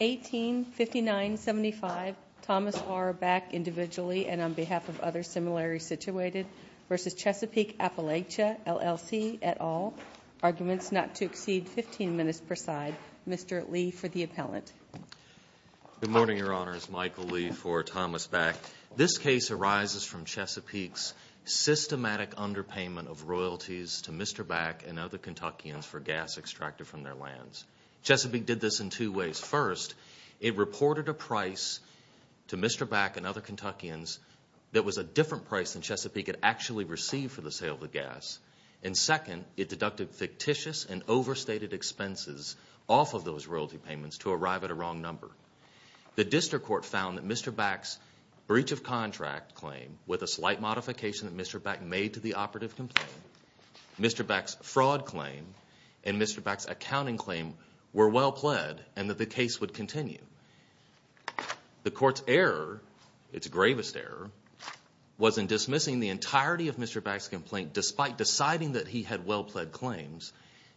185975 Thomas R. Back, individually, and on behalf of others similarly situated, v. Chesapeake Appalachia LLC, et al., arguments not to exceed 15 minutes per side. Mr. Lee for the appellant. Good morning, Your Honors. Michael Lee for Thomas Back. This case arises from Chesapeake's systematic underpayment of royalties to Mr. Back and other Kentuckians for gas extracted from their lands. Chesapeake did this in two ways. First, it reported a price to Mr. Back and other Kentuckians that was a different price than Chesapeake had actually received for the sale of the gas. And second, it deducted fictitious and overstated expenses off of those royalty payments to arrive at a wrong number. The district court found that Mr. Back made to the operative complaint, Mr. Back's fraud claim and Mr. Back's accounting claim were well pled and that the case would continue. The court's error, its gravest error, was in dismissing the entirety of Mr. Back's complaint despite deciding that he had well pled claims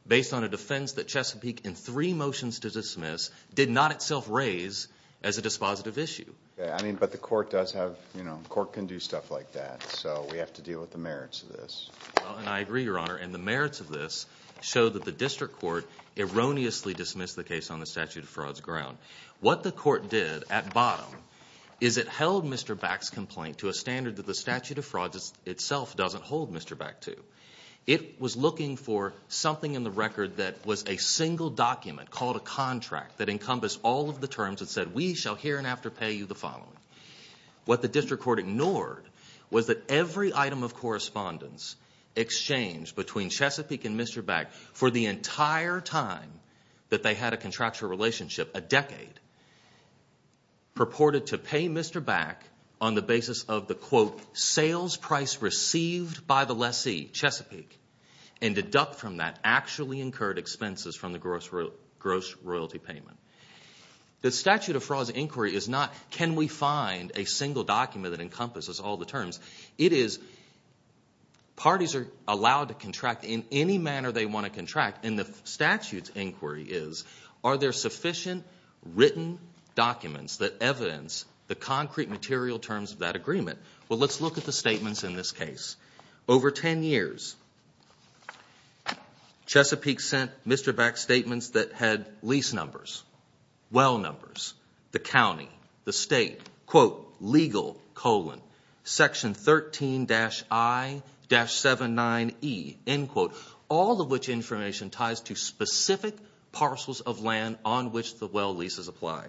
based on a defense that Chesapeake, in three motions to dismiss, did not itself raise as a dispositive issue. I mean, but the court does have, you know, the court can do stuff like that, so we have to deal with the merits of this. Well, and I agree, Your Honor, and the merits of this show that the district court erroneously dismissed the case on the statute of frauds ground. What the court did at bottom is it held Mr. Back's complaint to a standard that the statute of frauds itself doesn't hold Mr. Back to. It was looking for something in the record that was a single document called a contract that encompassed all of the terms that said, we shall here and after pay you the following. What the district court ignored was that every item of correspondence exchanged between Chesapeake and Mr. Back for the entire time that they had a contractual relationship, a decade, purported to pay Mr. Back on the basis of the, quote, sales price received by the lessee, Chesapeake, and deduct from that actually incurred expenses from the gross royalty payment. The statute of frauds inquiry is not, can we find a single document that encompasses all the terms? It is, parties are allowed to contract in any manner they want to contract, and the statute's inquiry is, are there sufficient written documents that evidence the concrete material terms of that agreement? Well, let's look at the statements in this case. Over 10 years, Chesapeake sent Mr. Back statements that had lease numbers, well numbers, the county, the state, quote, legal, colon, section 13-I-79E, end quote, all of which information ties to specific parcels of land on which the well leases apply.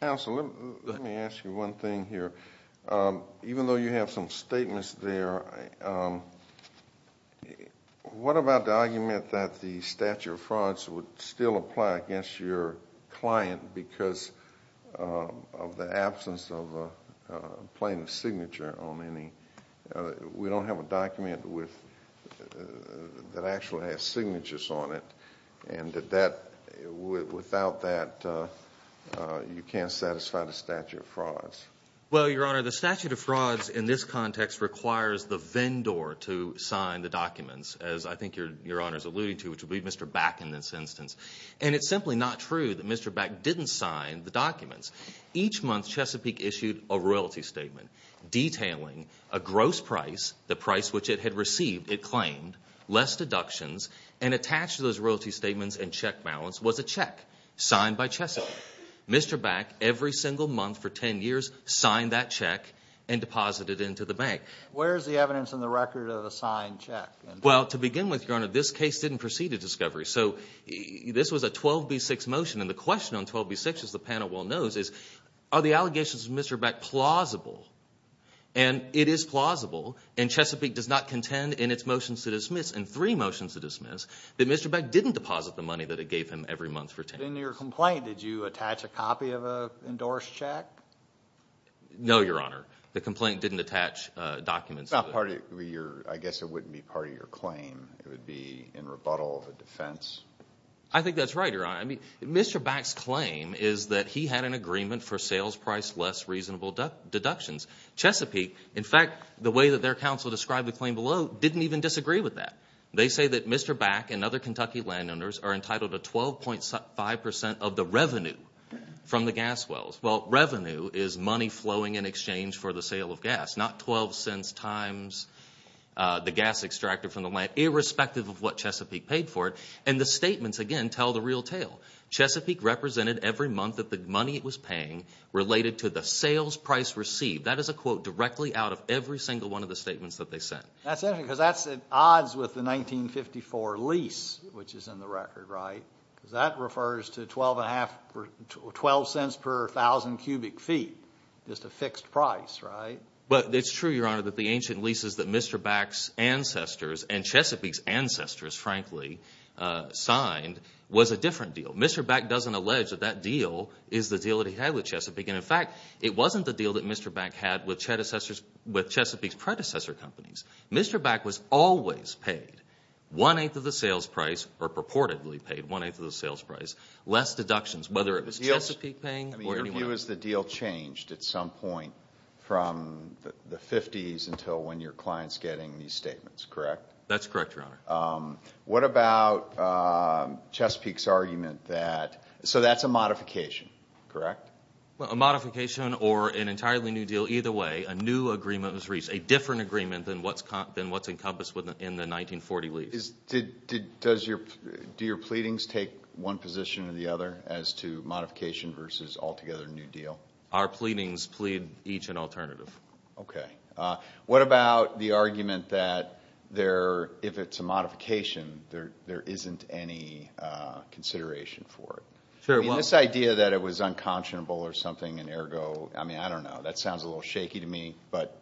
Counselor, let me ask you one thing here. Even though you have some statements there, what about the argument that the statute of frauds would still apply against your client because of the absence of a plaintiff's signature on any, we don't have a document with, that you can't satisfy the statute of frauds? Well, Your Honor, the statute of frauds in this context requires the vendor to sign the documents, as I think Your Honor's alluding to, which would be Mr. Back in this instance. And it's simply not true that Mr. Back didn't sign the documents. Each month, Chesapeake issued a royalty statement detailing a gross price, the price which it had received, it claimed, less deductions, and attached to those royalty statements. Mr. Back, every single month for 10 years, signed that check and deposited into the bank. Where is the evidence in the record of the signed check? Well, to begin with, Your Honor, this case didn't proceed to discovery. So this was a 12B6 motion, and the question on 12B6, as the panel well knows, is are the allegations of Mr. Back plausible? And it is plausible, and Chesapeake does not contend in its motions to dismiss, in three motions to dismiss, that Mr. Back didn't deposit the money that it gave him every month for a copy of an endorsed check? No, Your Honor. The complaint didn't attach documents. I guess it wouldn't be part of your claim. It would be in rebuttal of a defense. I think that's right, Your Honor. Mr. Back's claim is that he had an agreement for sales price less reasonable deductions. Chesapeake, in fact, the way that their counsel described the claim below, didn't even disagree with that. They say that Mr. Back and other Kentucky the revenue from the gas wells. Well, revenue is money flowing in exchange for the sale of gas, not 12 cents times the gas extracted from the land, irrespective of what Chesapeake paid for it. And the statements, again, tell the real tale. Chesapeake represented every month that the money it was paying related to the sales price received. That is a quote directly out of every single one of the statements that they sent. That's interesting, because that's at odds with the 1954 lease, which is in the record, right? Because that refers to 12 cents per 1,000 cubic feet, just a fixed price, right? But it's true, Your Honor, that the ancient leases that Mr. Back's ancestors and Chesapeake's ancestors, frankly, signed was a different deal. Mr. Back doesn't allege that that deal is the deal that he had with Chesapeake. And in fact, it wasn't the deal that Mr. Back had with Chesapeake's predecessor companies. Mr. Back was always paid one-eighth of the sales price, or purportedly paid one-eighth of the sales price. Less deductions, whether it was Chesapeake paying or anyone else. Your view is the deal changed at some point from the fifties until when your client's getting these statements, correct? That's correct, Your Honor. What about Chesapeake's argument that, so that's a modification, correct? A modification or an entirely new deal. Either way, a new agreement was reached, a different agreement than what's encompassed in the 1940 lease. Do your pleadings take one position or the other as to modification versus altogether new deal? Our pleadings plead each an alternative. Okay. What about the argument that if it's a modification, there isn't any consideration for it? This idea that it was unconscionable or something and ergo, I don't know, that sounds a little shaky to me, but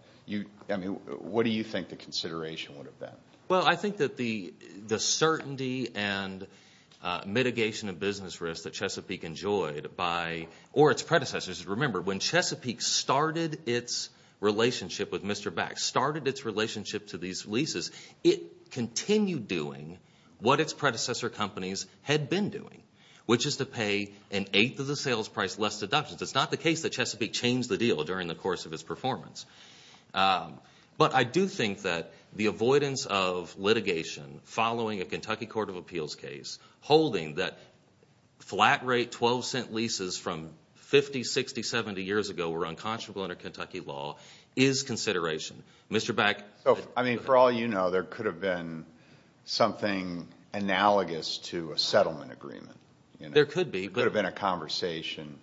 what do you think the consideration would have been? Well, I think that the certainty and mitigation of business risk that Chesapeake enjoyed by, or its predecessors. Remember, when Chesapeake started its relationship with Mr. Back, started its relationship to these leases, it continued doing what its predecessor companies had been doing, which is to pay an eighth of the sales price, less deductions. It's not the case that Chesapeake changed the deal during the previous performance. But I do think that the avoidance of litigation following a Kentucky Court of Appeals case, holding that flat rate 12 cent leases from 50, 60, 70 years ago were unconscionable under Kentucky law, is consideration. Mr. Back. I mean, for all you know, there could have been something analogous to a settlement agreement. There could be. It could have been a conversation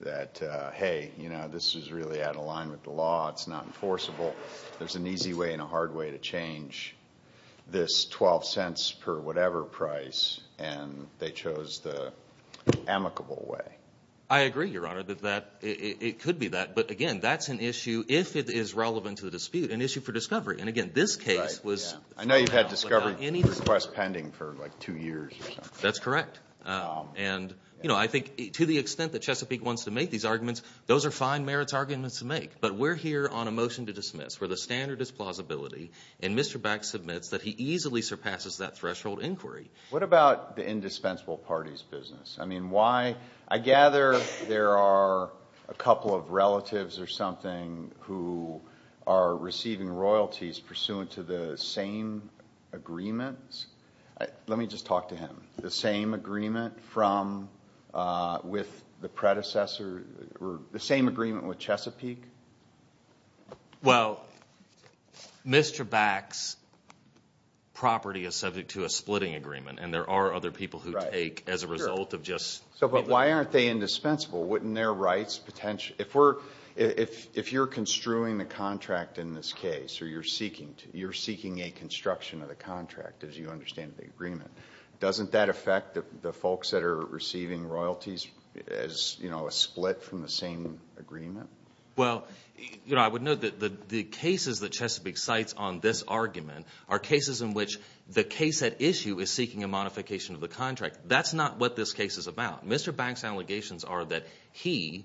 that, hey, you know, this is really out of line with the law. It's not enforceable. There's an easy way and a hard way to change this 12 cents per whatever price, and they chose the amicable way. I agree, Your Honor, that it could be that. But again, that's an issue, if it is relevant to the dispute, an issue for discovery. And again, this case was... I know you've had discovery requests pending for like two years or something. That's correct. And, you know, I think to the extent that Chesapeake wants to make these arguments, those are fine merits arguments to make. But we're here on a motion to dismiss where the standard is plausibility, and Mr. Back submits that he easily surpasses that threshold inquiry. What about the indispensable parties business? I mean, why... I gather there are a couple of relatives or something who are receiving royalties pursuant to the same agreements. Let me just talk to him. The same agreement from... with the predecessor... the same agreement with Chesapeake? Well, Mr. Back's property is subject to a splitting agreement, and there are other people who take as a result of just... So but why aren't they indispensable? Wouldn't their rights potentially... If you're construing the contract in this case, or you're seeking to, you're seeking a construction of the contract, as you understand the agreement. Doesn't that affect the folks that are receiving royalties as, you know, a split from the same agreement? Well, you know, I would note that the cases that Chesapeake cites on this argument are cases in which the case at issue is seeking a modification of the contract. That's not what this case is about. Mr. Back's allegations are that he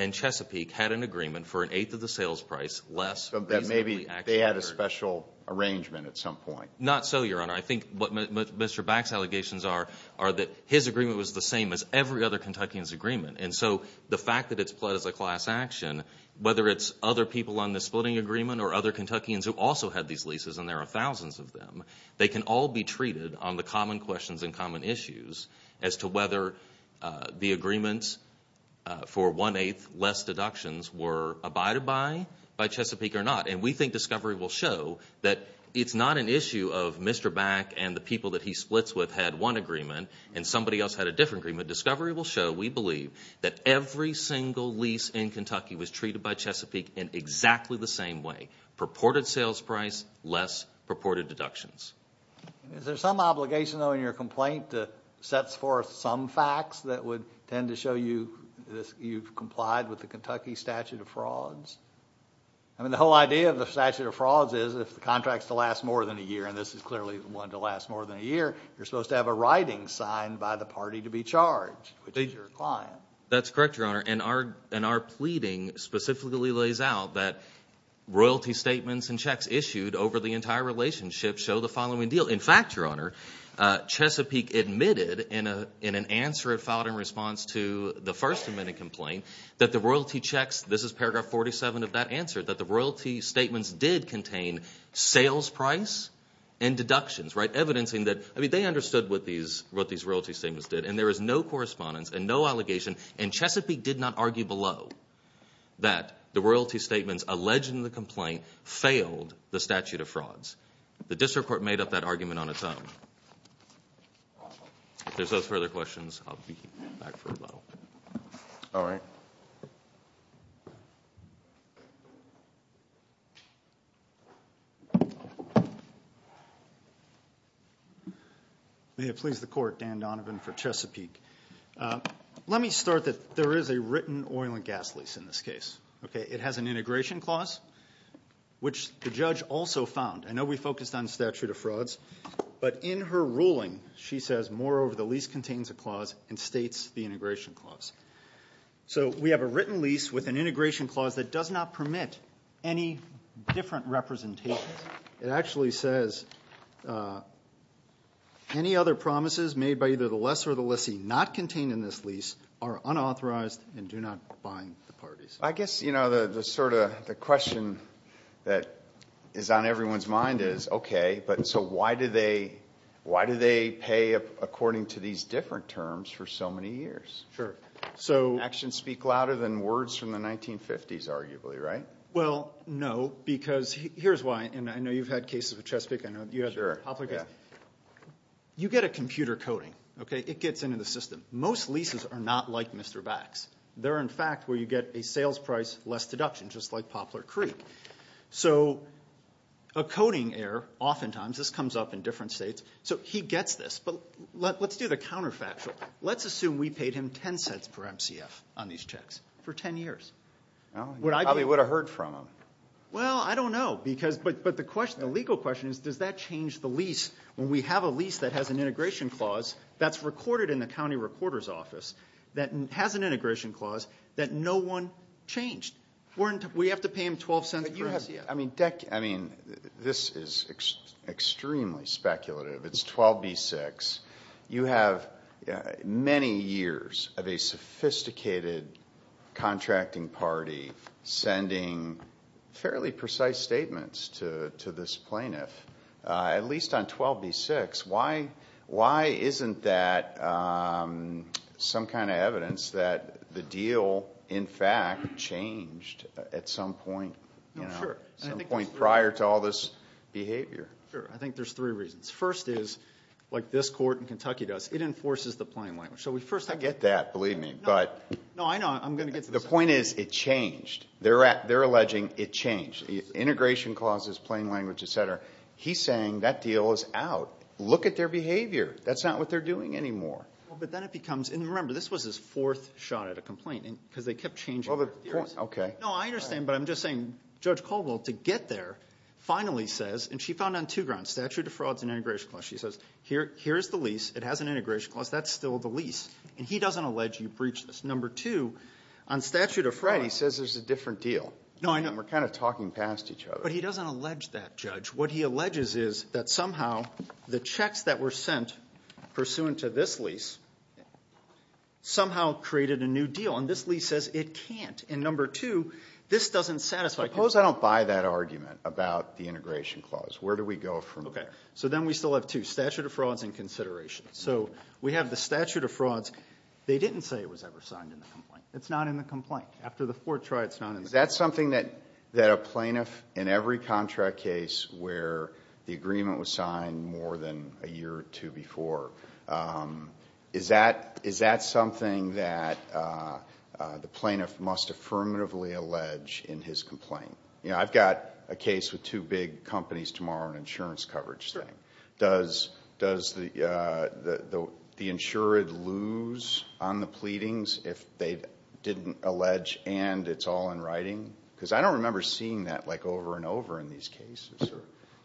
and Chesapeake had an agreement for an eighth of the sales price less... So that maybe they had a special arrangement at some point. Not so, Your Honor. I think what Mr. Back's allegations are, are that his agreement was the same as every other Kentuckian's agreement. And so the fact that it's pled as a class action, whether it's other people on the splitting agreement or other Kentuckians who also had these leases, and there are thousands of them, they can all be treated on the common questions and common issues as to whether the agreements for one-eighth less deductions were abided by by Chesapeake or not. And we think discovery will show that it's not an issue of Mr. Back and the people that he splits with had one agreement and somebody else had a different agreement. Discovery will show, we believe, that every single lease in Kentucky was treated by Chesapeake in exactly the same way. Purported sales price, less purported deductions. Is there some obligation, though, in your complaint that sets forth some facts that would tend to show you've complied with the Kentucky statute of frauds? I mean, the whole idea of the statute of frauds is if the contract's to last more than a year, and this is clearly one to last more than a year, you're supposed to have a writing signed by the party to be charged, which is your client. That's correct, Your Honor. And our pleading specifically lays out that royalty statements and checks issued over the entire relationship show the in response to the first amendment complaint that the royalty checks, this is paragraph 47 of that answer, that the royalty statements did contain sales price and deductions, right? Evidencing that, I mean, they understood what these royalty statements did and there is no correspondence and no allegation and Chesapeake did not argue below that the royalty statements alleged in the complaint failed the statute of frauds. The district court made up that back for a little. All right. May it please the court, Dan Donovan for Chesapeake. Let me start that there is a written oil and gas lease in this case. Okay, it has an integration clause, which the judge also found. I know we focused on statute of frauds, but in her ruling, she says, moreover, the lease contains a clause and states the integration clause. So we have a written lease with an integration clause that does not permit any different representations. It actually says, any other promises made by either the lessor or the lessee not contained in this lease are unauthorized and do not bind the parties. I guess, you know, the sort of question that is on everyone's mind is, okay, but so why do they pay according to these different terms for so many years? Sure. So. Actions speak louder than words from the 1950s, arguably, right? Well, no, because here is why, and I know you have had cases with Chesapeake, I know you have had the Poplar case. You get a computer coding, okay, it gets into the system. Most leases are not like Mr. Bax. They are, in fact, where you get a sales price, less deduction, just like Poplar Creek. So a coding error, oftentimes, this comes up in different states, so he gets this, but let's do the counterfactual. Let's assume we paid him 10 cents per MCF on these checks for 10 years. He probably would have heard from him. Well, I don't know, but the legal question is, does that change the lease when we have a lease that has an integration clause that is recorded in the county recorder's office that has an integration clause changed? We have to pay him 12 cents per MCF. I mean, this is extremely speculative. It's 12B6. You have many years of a sophisticated contracting party sending fairly precise statements to this plaintiff, at least on 12B6. Why isn't that some kind of evidence that the deal, in fact, changed at some point prior to all this behavior? Sure. I think there's three reasons. First is, like this court in Kentucky does, it enforces the plain language. I get that, believe me, but the point is it changed. They're alleging it changed. Integration clauses, plain language, et cetera. He's saying that deal is out. Look at their behavior. That's not what they're doing anymore. Well, but then it becomes, and remember, this was his fourth shot at a complaint, because they kept changing their theories. Okay. No, I understand, but I'm just saying Judge Caldwell, to get there, finally says, and she found on two grounds, statute of frauds and integration clause. She says, here's the lease. It has an integration clause. That's still the lease. And he doesn't allege you breached this. Number two, on statute of frauds. Right. He says there's a different deal. No, I know. And we're kind of talking past each other. But he doesn't allege that, Judge. What he says is, somehow, the checks that were sent pursuant to this lease somehow created a new deal. And this lease says it can't. And number two, this doesn't satisfy Suppose I don't buy that argument about the integration clause. Where do we go from there? Okay. So then we still have two, statute of frauds and consideration. So we have the statute of frauds. They didn't say it was ever signed in the complaint. It's not in the complaint. After the fourth try, it's not in the complaint. Is that something that a plaintiff, in every contract case where the agreement was signed more than a year or two before, is that something that the plaintiff must affirmatively allege in his complaint? You know, I've got a case with two big companies tomorrow, an insurance coverage thing. Does the insured lose on the pleadings if they didn't allege, and it's all in writing? Because I don't remember seeing that like over and over in these cases.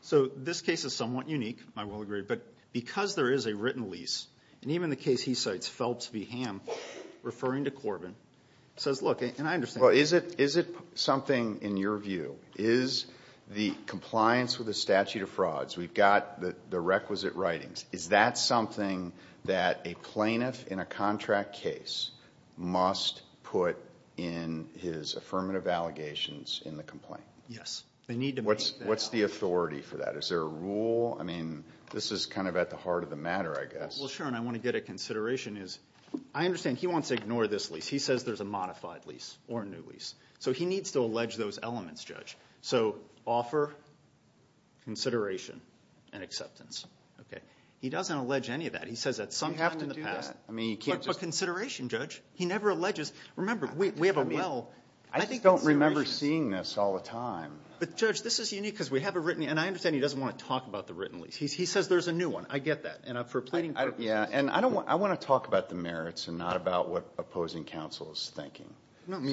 So this case is somewhat unique, I will agree. But because there is a written lease, and even the case he cites, Phelps v. Ham, referring to Corbin, says, look, and I understand Well, is it something, in your view, is the compliance with the statute of frauds, we've got the requisite writings, is that something that a plaintiff in a contract case must put in his affirmative allegations in the complaint? Yes, they need to make that. What's the authority for that? Is there a rule? I mean, this is kind of at the heart of the matter, I guess. Well, sure, and I want to get at consideration is, I understand he wants to ignore this lease. He says there's a modified lease, or a new lease. So he needs to allege those elements, Judge. So offer, consideration, and acceptance. He doesn't allege any of that. He says at some time in the past. But consideration, Judge. He never alleges. Remember, we have a well. I don't remember seeing this all the time. But Judge, this is unique because we have a written, and I understand he doesn't want to talk about the written lease. He says there's a new one. I get that. And for pleading purposes. And I want to talk about the merits and not about what opposing counsel is thinking.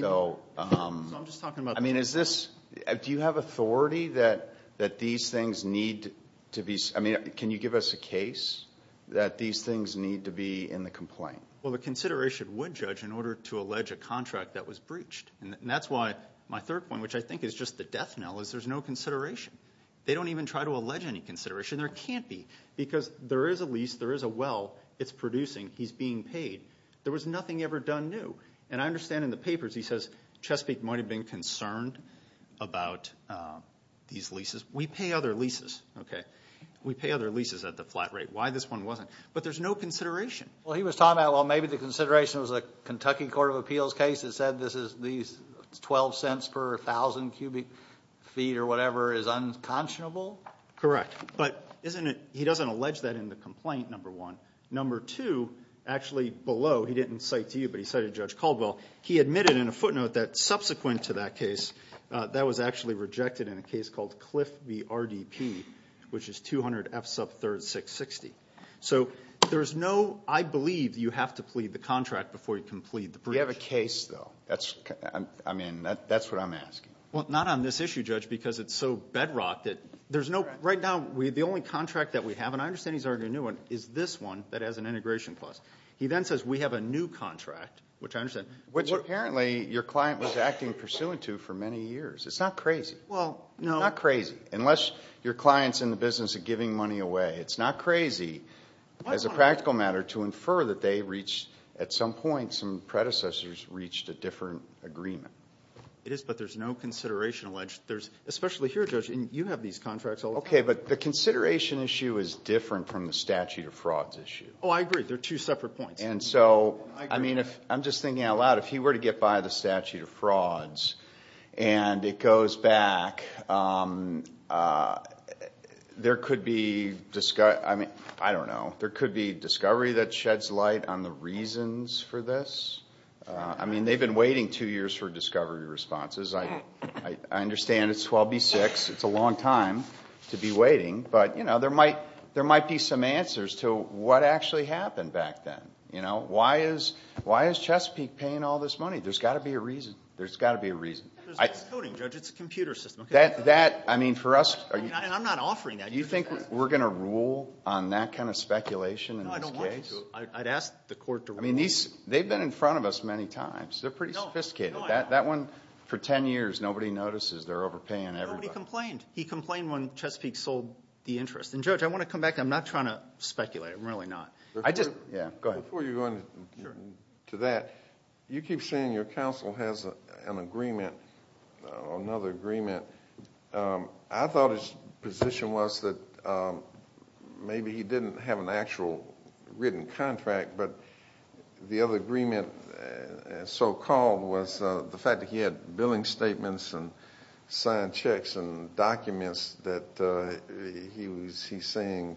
So, I mean, is this, do you have authority that these things need to be, I mean, can you give us a case that these things need to be in the complaint? Well, the consideration would, Judge, in order to allege a contract that was breached. And that's why my third point, which I think is just the death knell, is there's no consideration. They don't even try to allege any consideration. There can't be. Because there is a lease. There is a well. It's producing. He's being paid. There was nothing ever done new. And I understand in the papers, he says, Chesapeake might have been concerned about these leases. We pay other leases, okay? We pay other leases at the flat rate. Why this one wasn't? But there's no consideration. Well, he was talking about, well, maybe the consideration was a Kentucky Court of Appeals case that said this is, these 12 cents per 1,000 cubic feet or whatever is unconscionable. Correct. But isn't it, he doesn't allege that in the complaint, number one. Number two, actually below, he didn't cite to you, but he cited Judge Caldwell, he admitted in a footnote that subsequent to that case, that was actually rejected in a case called Cliff v. RDP, which is 200 F sub 3rd 660. So there's no, I believe you have to plead the contract before you can plead the breach. We have a case, though. That's, I mean, that's what I'm asking. Well, not on this issue, Judge, because it's so bedrocked that there's no, right now, the only contract that we have, and I understand he's arguing a new one, is this one, that has an integration clause. He then says we have a new contract, which I understand. Which apparently your client was acting pursuant to for many years. It's not crazy. Well, no. Not crazy. Unless your client's in the business of giving money away. It's not crazy, as a practical matter, to infer that they reached, at some point, some predecessors reached a different agreement. It is, but there's no consideration alleged. There's, especially here, Judge, and you have these contracts all the time. Okay, but the consideration issue is different from the statute of frauds issue. Oh, I agree. They're two separate points. And so, I mean, if, I'm just thinking out loud, if he were to get by the statute of frauds and it goes back, there could be, I mean, I don't know, there could be discovery that sheds light on the reasons for this. I mean, they've been waiting two years for me to be waiting, but, you know, there might be some answers to what actually happened back then. You know, why is Chesapeake paying all this money? There's got to be a reason. There's got to be a reason. There's no coding, Judge. It's a computer system. That, I mean, for us, are you... I'm not offering that. Do you think we're going to rule on that kind of speculation in this case? No, I don't want you to. I'd ask the court to rule. I mean, these, they've been in front of us many times. They're pretty sophisticated. That one, for ten years, nobody notices they're overpaying everybody. Nobody complained. He complained when Chesapeake sold the interest. And, Judge, I want to come back. I'm not trying to speculate. I'm really not. I just... Yeah, go ahead. Before you go into that, you keep saying your counsel has an agreement, another agreement. I thought his position was that maybe he didn't have an actual written contract, but the other agreement, so-called, was the fact that he had billing statements and signed checks and documents that he was, he's saying,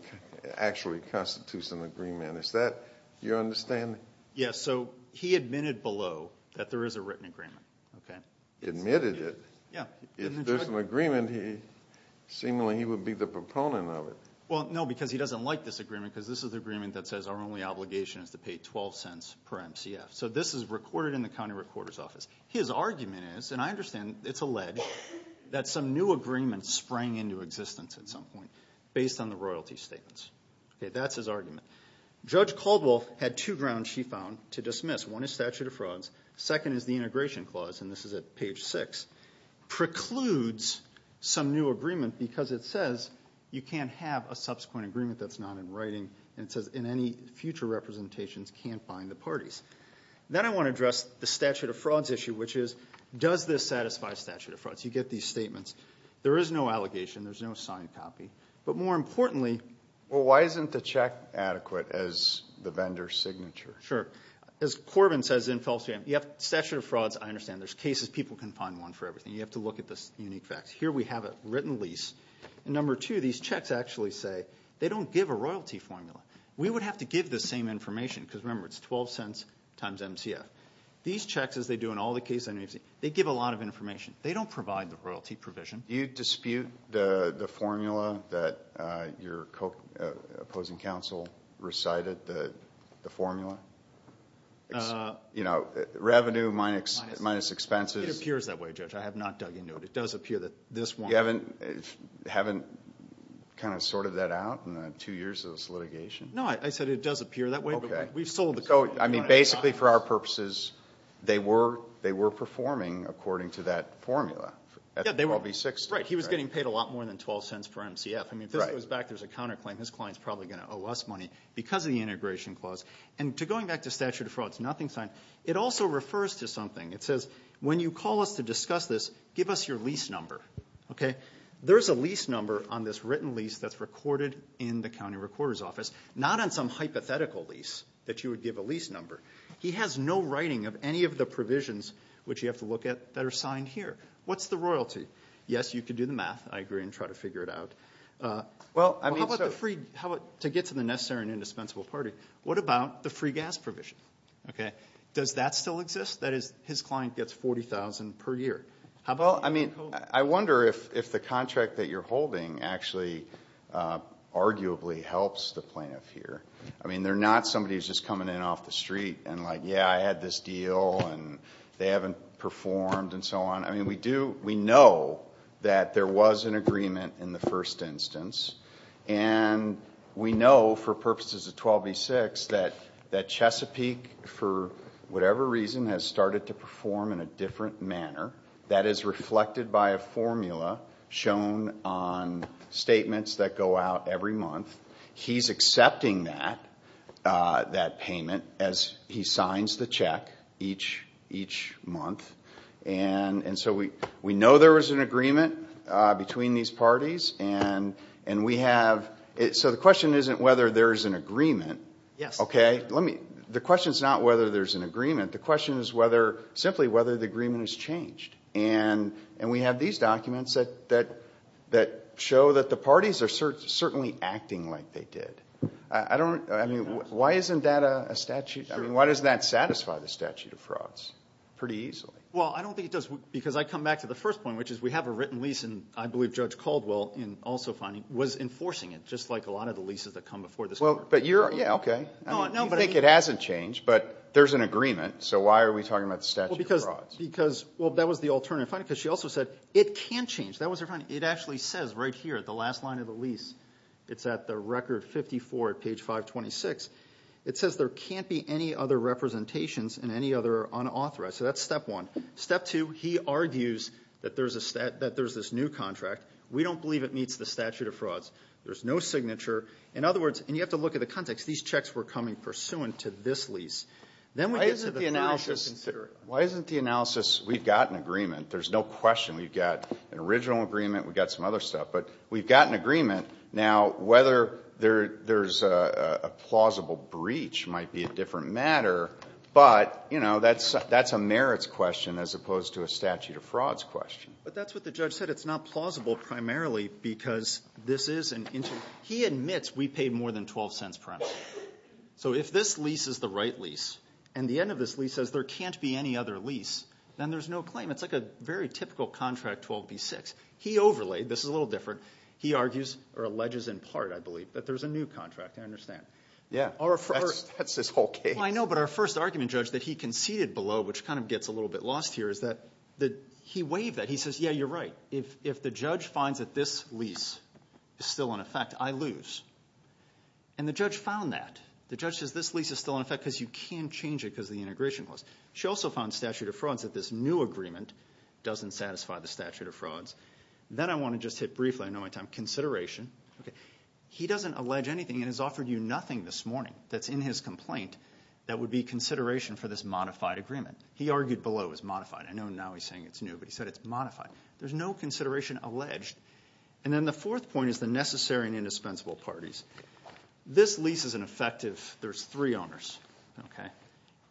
actually constitutes an agreement. Is that your understanding? Yeah, so he admitted below that there is a written agreement, okay? Admitted it? Yeah. If there's an agreement, he, seemingly, he would be the proponent of it. Well, no, because he doesn't like this agreement, because this is the agreement that says our only obligation is to pay 12 cents per MCF. So this is recorded in the County Recorder's Office. His argument is, and I understand it's alleged, that some new agreement sprang into existence at some point, based on the royalty statements. Okay, that's his argument. Judge Caldwell had two grounds, she found, to dismiss. One is statute of frauds. Second is the integration clause, and this is at page six, precludes some new agreement because it says you can't have a subsequent agreement that's not in writing, and it says in any future representations, can't bind the parties. Then I want to address the statute of frauds issue, which is, does this satisfy statute of frauds? You get these statements. There is no allegation, there's no signed copy, but more importantly. Well, why isn't the check adequate as the vendor's signature? Sure. As Corbin says in Felsenham, you have statute of frauds, I understand. There's cases, people can find one for everything. You have to look at the unique facts. Here we have a written lease, and number two, these checks actually say, they don't give a royalty formula. We would have to give the same information, because remember, it's 12 cents times MCF. These checks, as they do in all the cases I've seen, they give a lot of information. They don't provide the royalty provision. Do you dispute the formula that your opposing counsel recited, the formula? You know, revenue minus expenses. It appears that way, Judge. I have not dug into it. It does appear that this one. You haven't kind of sorted that out in the two years of this litigation? No, I said it does appear that way, but we've sold the code. I mean, basically for our purposes, they were performing according to that formula. He was getting paid a lot more than 12 cents per MCF. If this goes back, there's a counterclaim. His client's probably going to owe us money because of the integration clause. And going back to statute of frauds, nothing signed, it also refers to something. It says, when you call us to discuss this, give us your lease number. Okay? There's a lease number on this written lease that's recorded in the county recorder's office, not on some hypothetical lease that you would give a lease number. He has no writing of any of the provisions, which you have to look at, that are signed here. What's the royalty? Yes, you could do the math, I agree, and try to figure it out. Well, I mean, so. To get to the necessary and indispensable party, what about the free gas provision? Okay. Does that still exist? That is, his client gets $40,000 per year. Well, I mean, I wonder if the contract that you're holding actually arguably helps the plaintiff here. I mean, they're not somebody who's just coming in off the street and like, yeah, I had this deal and they haven't performed and so on. I mean, we know that there was an agreement in the first instance, and we know for purposes of 1286 that Chesapeake for whatever reason has started to perform in a different manner. That is reflected by a formula shown on statements that go out every month. He's accepting that payment as he signs the check each month, and so we know there was an agreement between these parties, and we have, so the question isn't whether there's an agreement. Yes. Okay? The question's not whether there's an agreement. The question is whether, simply whether the agreement is changed, and we have these documents that show that the parties are certainly acting like they did. I don't, I mean, why isn't that a statute? I mean, why doesn't that satisfy the statute of frauds pretty easily? Well, I don't think it does, because I come back to the first point, which is we have a written lease, and I believe Judge Caldwell, in also finding, was enforcing it, just like a lot of the leases that come before this Court. Well, but you're, yeah, okay. I mean, you think it hasn't changed, but there's an agreement, so why are we talking about the statute of frauds? Because, well, that was the alternative finding, because she also said it can change. That was her finding. It actually says right here at the last line of the lease, it's at the record 54 at page 526, it says there can't be any other representations and any other So that's step one. Step two, he argues that there's a statute, that there's this new contract. We don't believe it meets the statute of frauds. There's no signature. In other words, and you have to look at the context. These checks were coming pursuant to this lease. Then we get to the finished and considered. Why isn't the analysis, we've got an agreement, there's no question, we've got an original agreement, we've got some other stuff. But we've got an agreement. Now, whether there's a plausible breach might be a different matter. But, you know, that's a merits question as opposed to a statute of frauds question. But that's what the judge said. It's not plausible primarily because this is an interim. He admits we paid more than 12 cents per annum. So if this lease is the right lease, and the end of this lease says there can't be any other lease, then there's no claim. It's like a very typical contract 12b-6. He overlaid. This is a little different. He argues, or alleges in part, I believe, that there's a new contract. I understand. Yeah, that's his whole case. I know, but our first argument, Judge, that he conceded below, which kind of gets a little bit lost here, is that he waived that. He says, yeah, you're right. If the judge finds that this lease is still in effect, I lose. And the judge found that. The judge says this lease is still in effect because you can't change it because of the integration clause. She also found in the statute of frauds that this new agreement doesn't satisfy the statute of frauds. Then I want to just hit briefly, I know I have time, consideration. He doesn't allege anything and has offered you nothing this morning that's in his complaint that would be consideration for this modified agreement. He argued below it was modified. I know now he's saying it's new, but he said it's modified. There's no consideration alleged. And then the fourth point is the necessary and indispensable parties. This lease is in effect if there's three owners.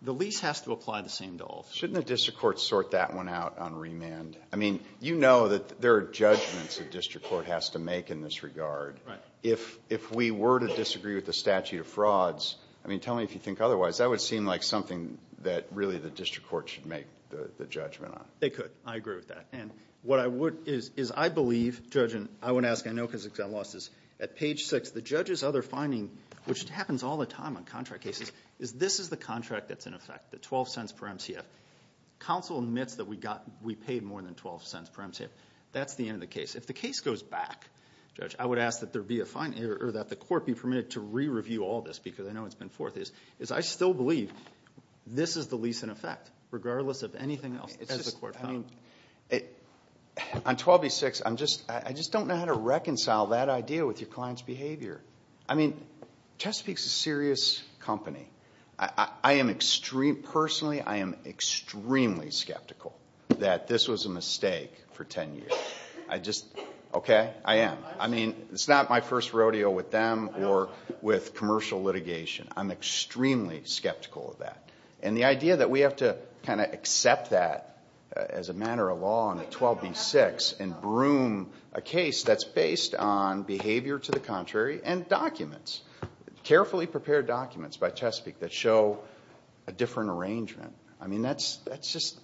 The lease has to apply the same to all. Shouldn't the district court sort that one out on remand? I mean, you know that there are judgments the district court has to make in this regard. If we were to disagree with the statute of frauds, I mean, tell me if you think otherwise, that would seem like something that really the district court should make the judgment on. They could. I agree with that. And what I would is I believe, Judge, and I won't ask I know because I lost this. At page six, the judge's other finding, which happens all the time on contract cases, is this is the contract that's in effect, the 12 cents per MCF. Counsel admits that we paid more than 12 cents per MCF. That's the end of the case. If the case goes back, Judge, I would ask that there be a finding, or that the court be permitted to re-review all this, because I know it's been forth, is I still believe this is the lease in effect, regardless of anything else as the court found. On 12B6, I just don't know how to reconcile that idea with your client's behavior. I mean, I'm skeptical that this was a mistake for 10 years. I just, okay, I am. I mean, it's not my first rodeo with them or with commercial litigation. I'm extremely skeptical of that. And the idea that we have to kind of accept that as a matter of law on 12B6 and broom a case that's based on behavior to the contrary and documents, carefully prepared documents by Chesapeake that show a different arrangement. I mean, that's just...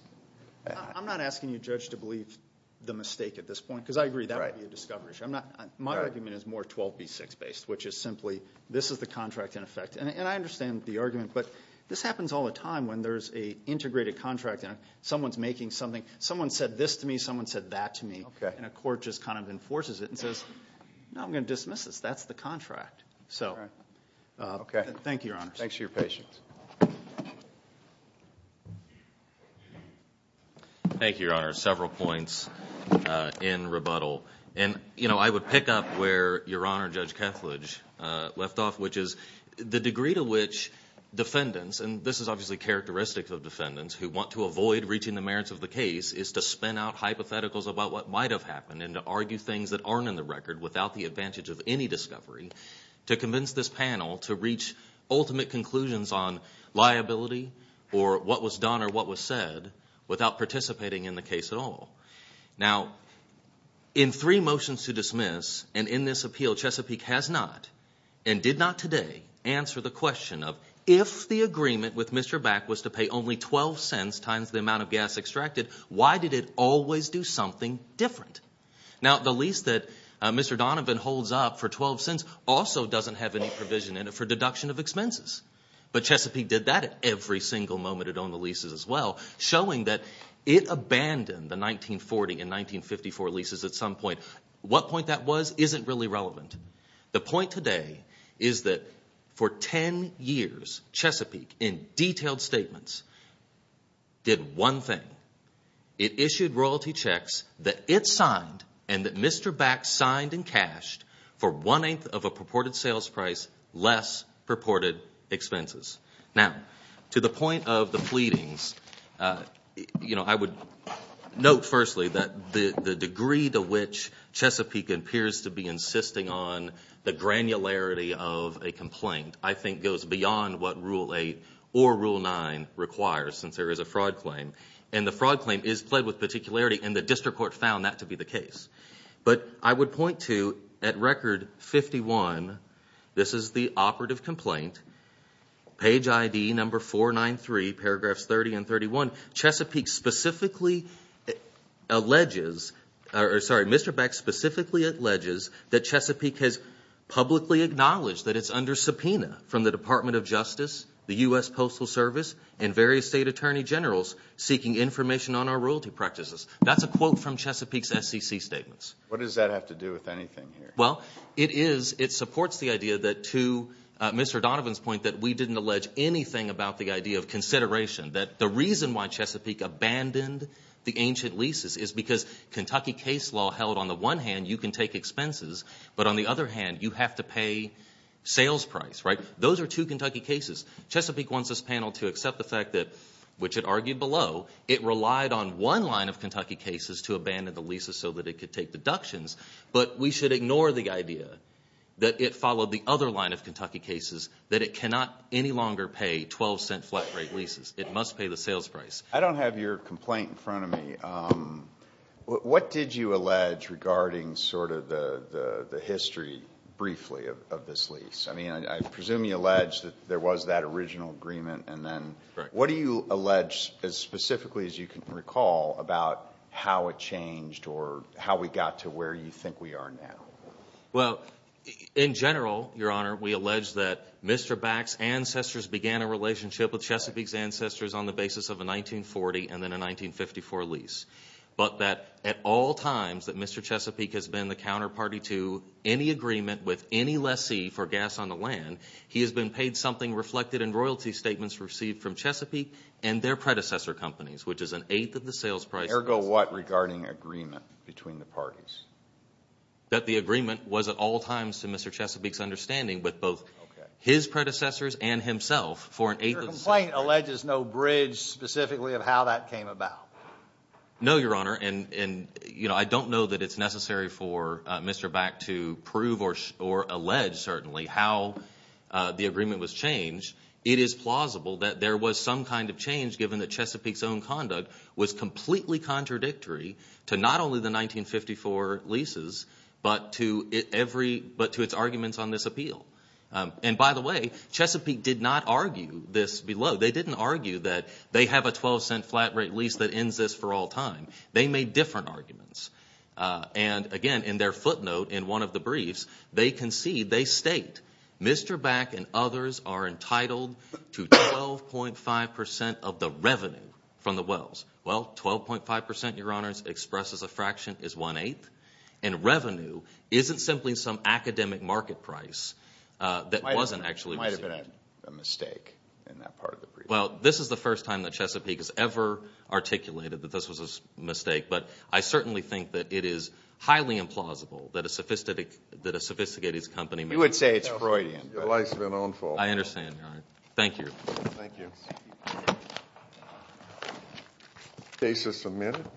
I'm not asking you, Judge, to believe the mistake at this point, because I agree that would be a discovery. My argument is more 12B6 based, which is simply this is the contract in effect. And I understand the argument, but this happens all the time when there's a integrated contract and someone's making something. Someone said this to me, someone said that to me, and a court just kind of enforces it and says, no, I'm going to dismiss this. That's the contract. So. Okay. Thank you, Your Honor. Thanks for your patience. Thank you, Your Honor. Several points in rebuttal. And, you know, I would pick up where Your Honor Judge Kethledge left off, which is the degree to which defendants, and this is obviously characteristic of defendants who want to avoid reaching the merits of the case, is to spin out hypotheticals about what might have happened and to argue things that aren't in the record without the advantage of any discovery to convince this panel to reach ultimate conclusions on liability or what was done or what was said without participating in the case at all. Now, in three motions to dismiss and in this appeal, Chesapeake has not and did not today answer the question of if the agreement with Mr. Back was to pay only 12 cents times the amount of gas extracted, why did it always do something different? Now, the lease that Mr. Donovan holds up for 12 cents also doesn't have any provision in it for deduction of expenses. But Chesapeake did that at every single moment it owned the leases as well, showing that it abandoned the 1940 and 1954 leases at some point. What point that was isn't really relevant. The point today is that for 10 years, Chesapeake in detailed statements did one thing. It issued royalty checks that it signed and that Mr. Back signed and cashed for one-eighth of a purported sales price, less purported expenses. Now, to the point of the pleadings, I would note firstly that the degree to which Chesapeake appears to be insisting on the granularity of a complaint I think goes beyond what Rule 8 or Rule 9 requires, since there is a fraud claim. And the fraud claim is pled with particularity and the district court found that to be the case. But I would point to at Record 51, this is the operative complaint, page ID number 493, paragraphs 30 and 31, Mr. Back specifically alleges that Chesapeake has publicly acknowledged that it's under subpoena from the Department of Justice, the U.S. Postal Service, and various state attorney generals seeking information on our royalty practices. That's a quote from Chesapeake's SEC statements. What does that have to do with anything here? Well, it is, it supports the idea that to Mr. Donovan's point that we didn't allege anything about the idea of consideration, that the reason why Chesapeake abandoned the ancient leases is because Kentucky case law held on the one hand you can take expenses, but on the other hand you have to pay sales price, right? Those are two Kentucky cases. Chesapeake wants this panel to accept the fact that, which it argued below, it relied on one line of Kentucky cases to abandon the leases so that it could take deductions, but we should ignore the idea that it followed the other line of Kentucky cases, that it cannot any longer pay 12 cent flat rate leases. It must pay the sales price. I don't have your complaint in front of me. What did you allege regarding sort of the history briefly of this lease? I mean, I presume you allege that there was that original agreement and then, what do you allege as specifically as you can recall about how it changed or how we got to where you think we are now? Well, in general, your honor, we allege that Mr. Back's ancestors began a relationship with Chesapeake's ancestors on the basis of a 1940 and then a 1954 lease, but that at all times that Mr. Chesapeake has been the counterparty to any agreement with any lessee for gas on the land, he has been paid something reflected in royalty statements received from Chesapeake and their predecessor companies, which is an eighth of the sales price. Ergo what regarding agreement between the parties? That the agreement was at all times to Mr. Chesapeake's understanding with both his predecessors and himself for an eighth of the sale price. Your complaint alleges no bridge specifically of how that came about. No, your honor, and I don't know that it's necessary for Mr. Back to prove or allege certainly how the agreement was changed. It is plausible that there was some kind of change given that Chesapeake's own conduct was completely contradictory to not only the 1954 leases, but to its arguments on this appeal. And by the way, Chesapeake did not argue this below. They didn't argue that they have a twelve cent flat rate lease that ends this for all time. They made different arguments. And again, in their footnote in one of the briefs, they concede, they state, Mr. Back and others are entitled to 12.5% of the revenue from the wells. Well, 12.5%, your honors, expressed as a fraction is one-eighth. And revenue isn't simply some academic market price that wasn't actually received. It might have been a mistake in that part of the brief. Well, this is the first time that Chesapeake has ever articulated that this was a mistake. But I certainly think that it is highly implausible that a sophisticated company... You would say it's Freudian. It's the likes of an own fault. I understand, your honor. Thank you. Thank you. Thank you. Thank you.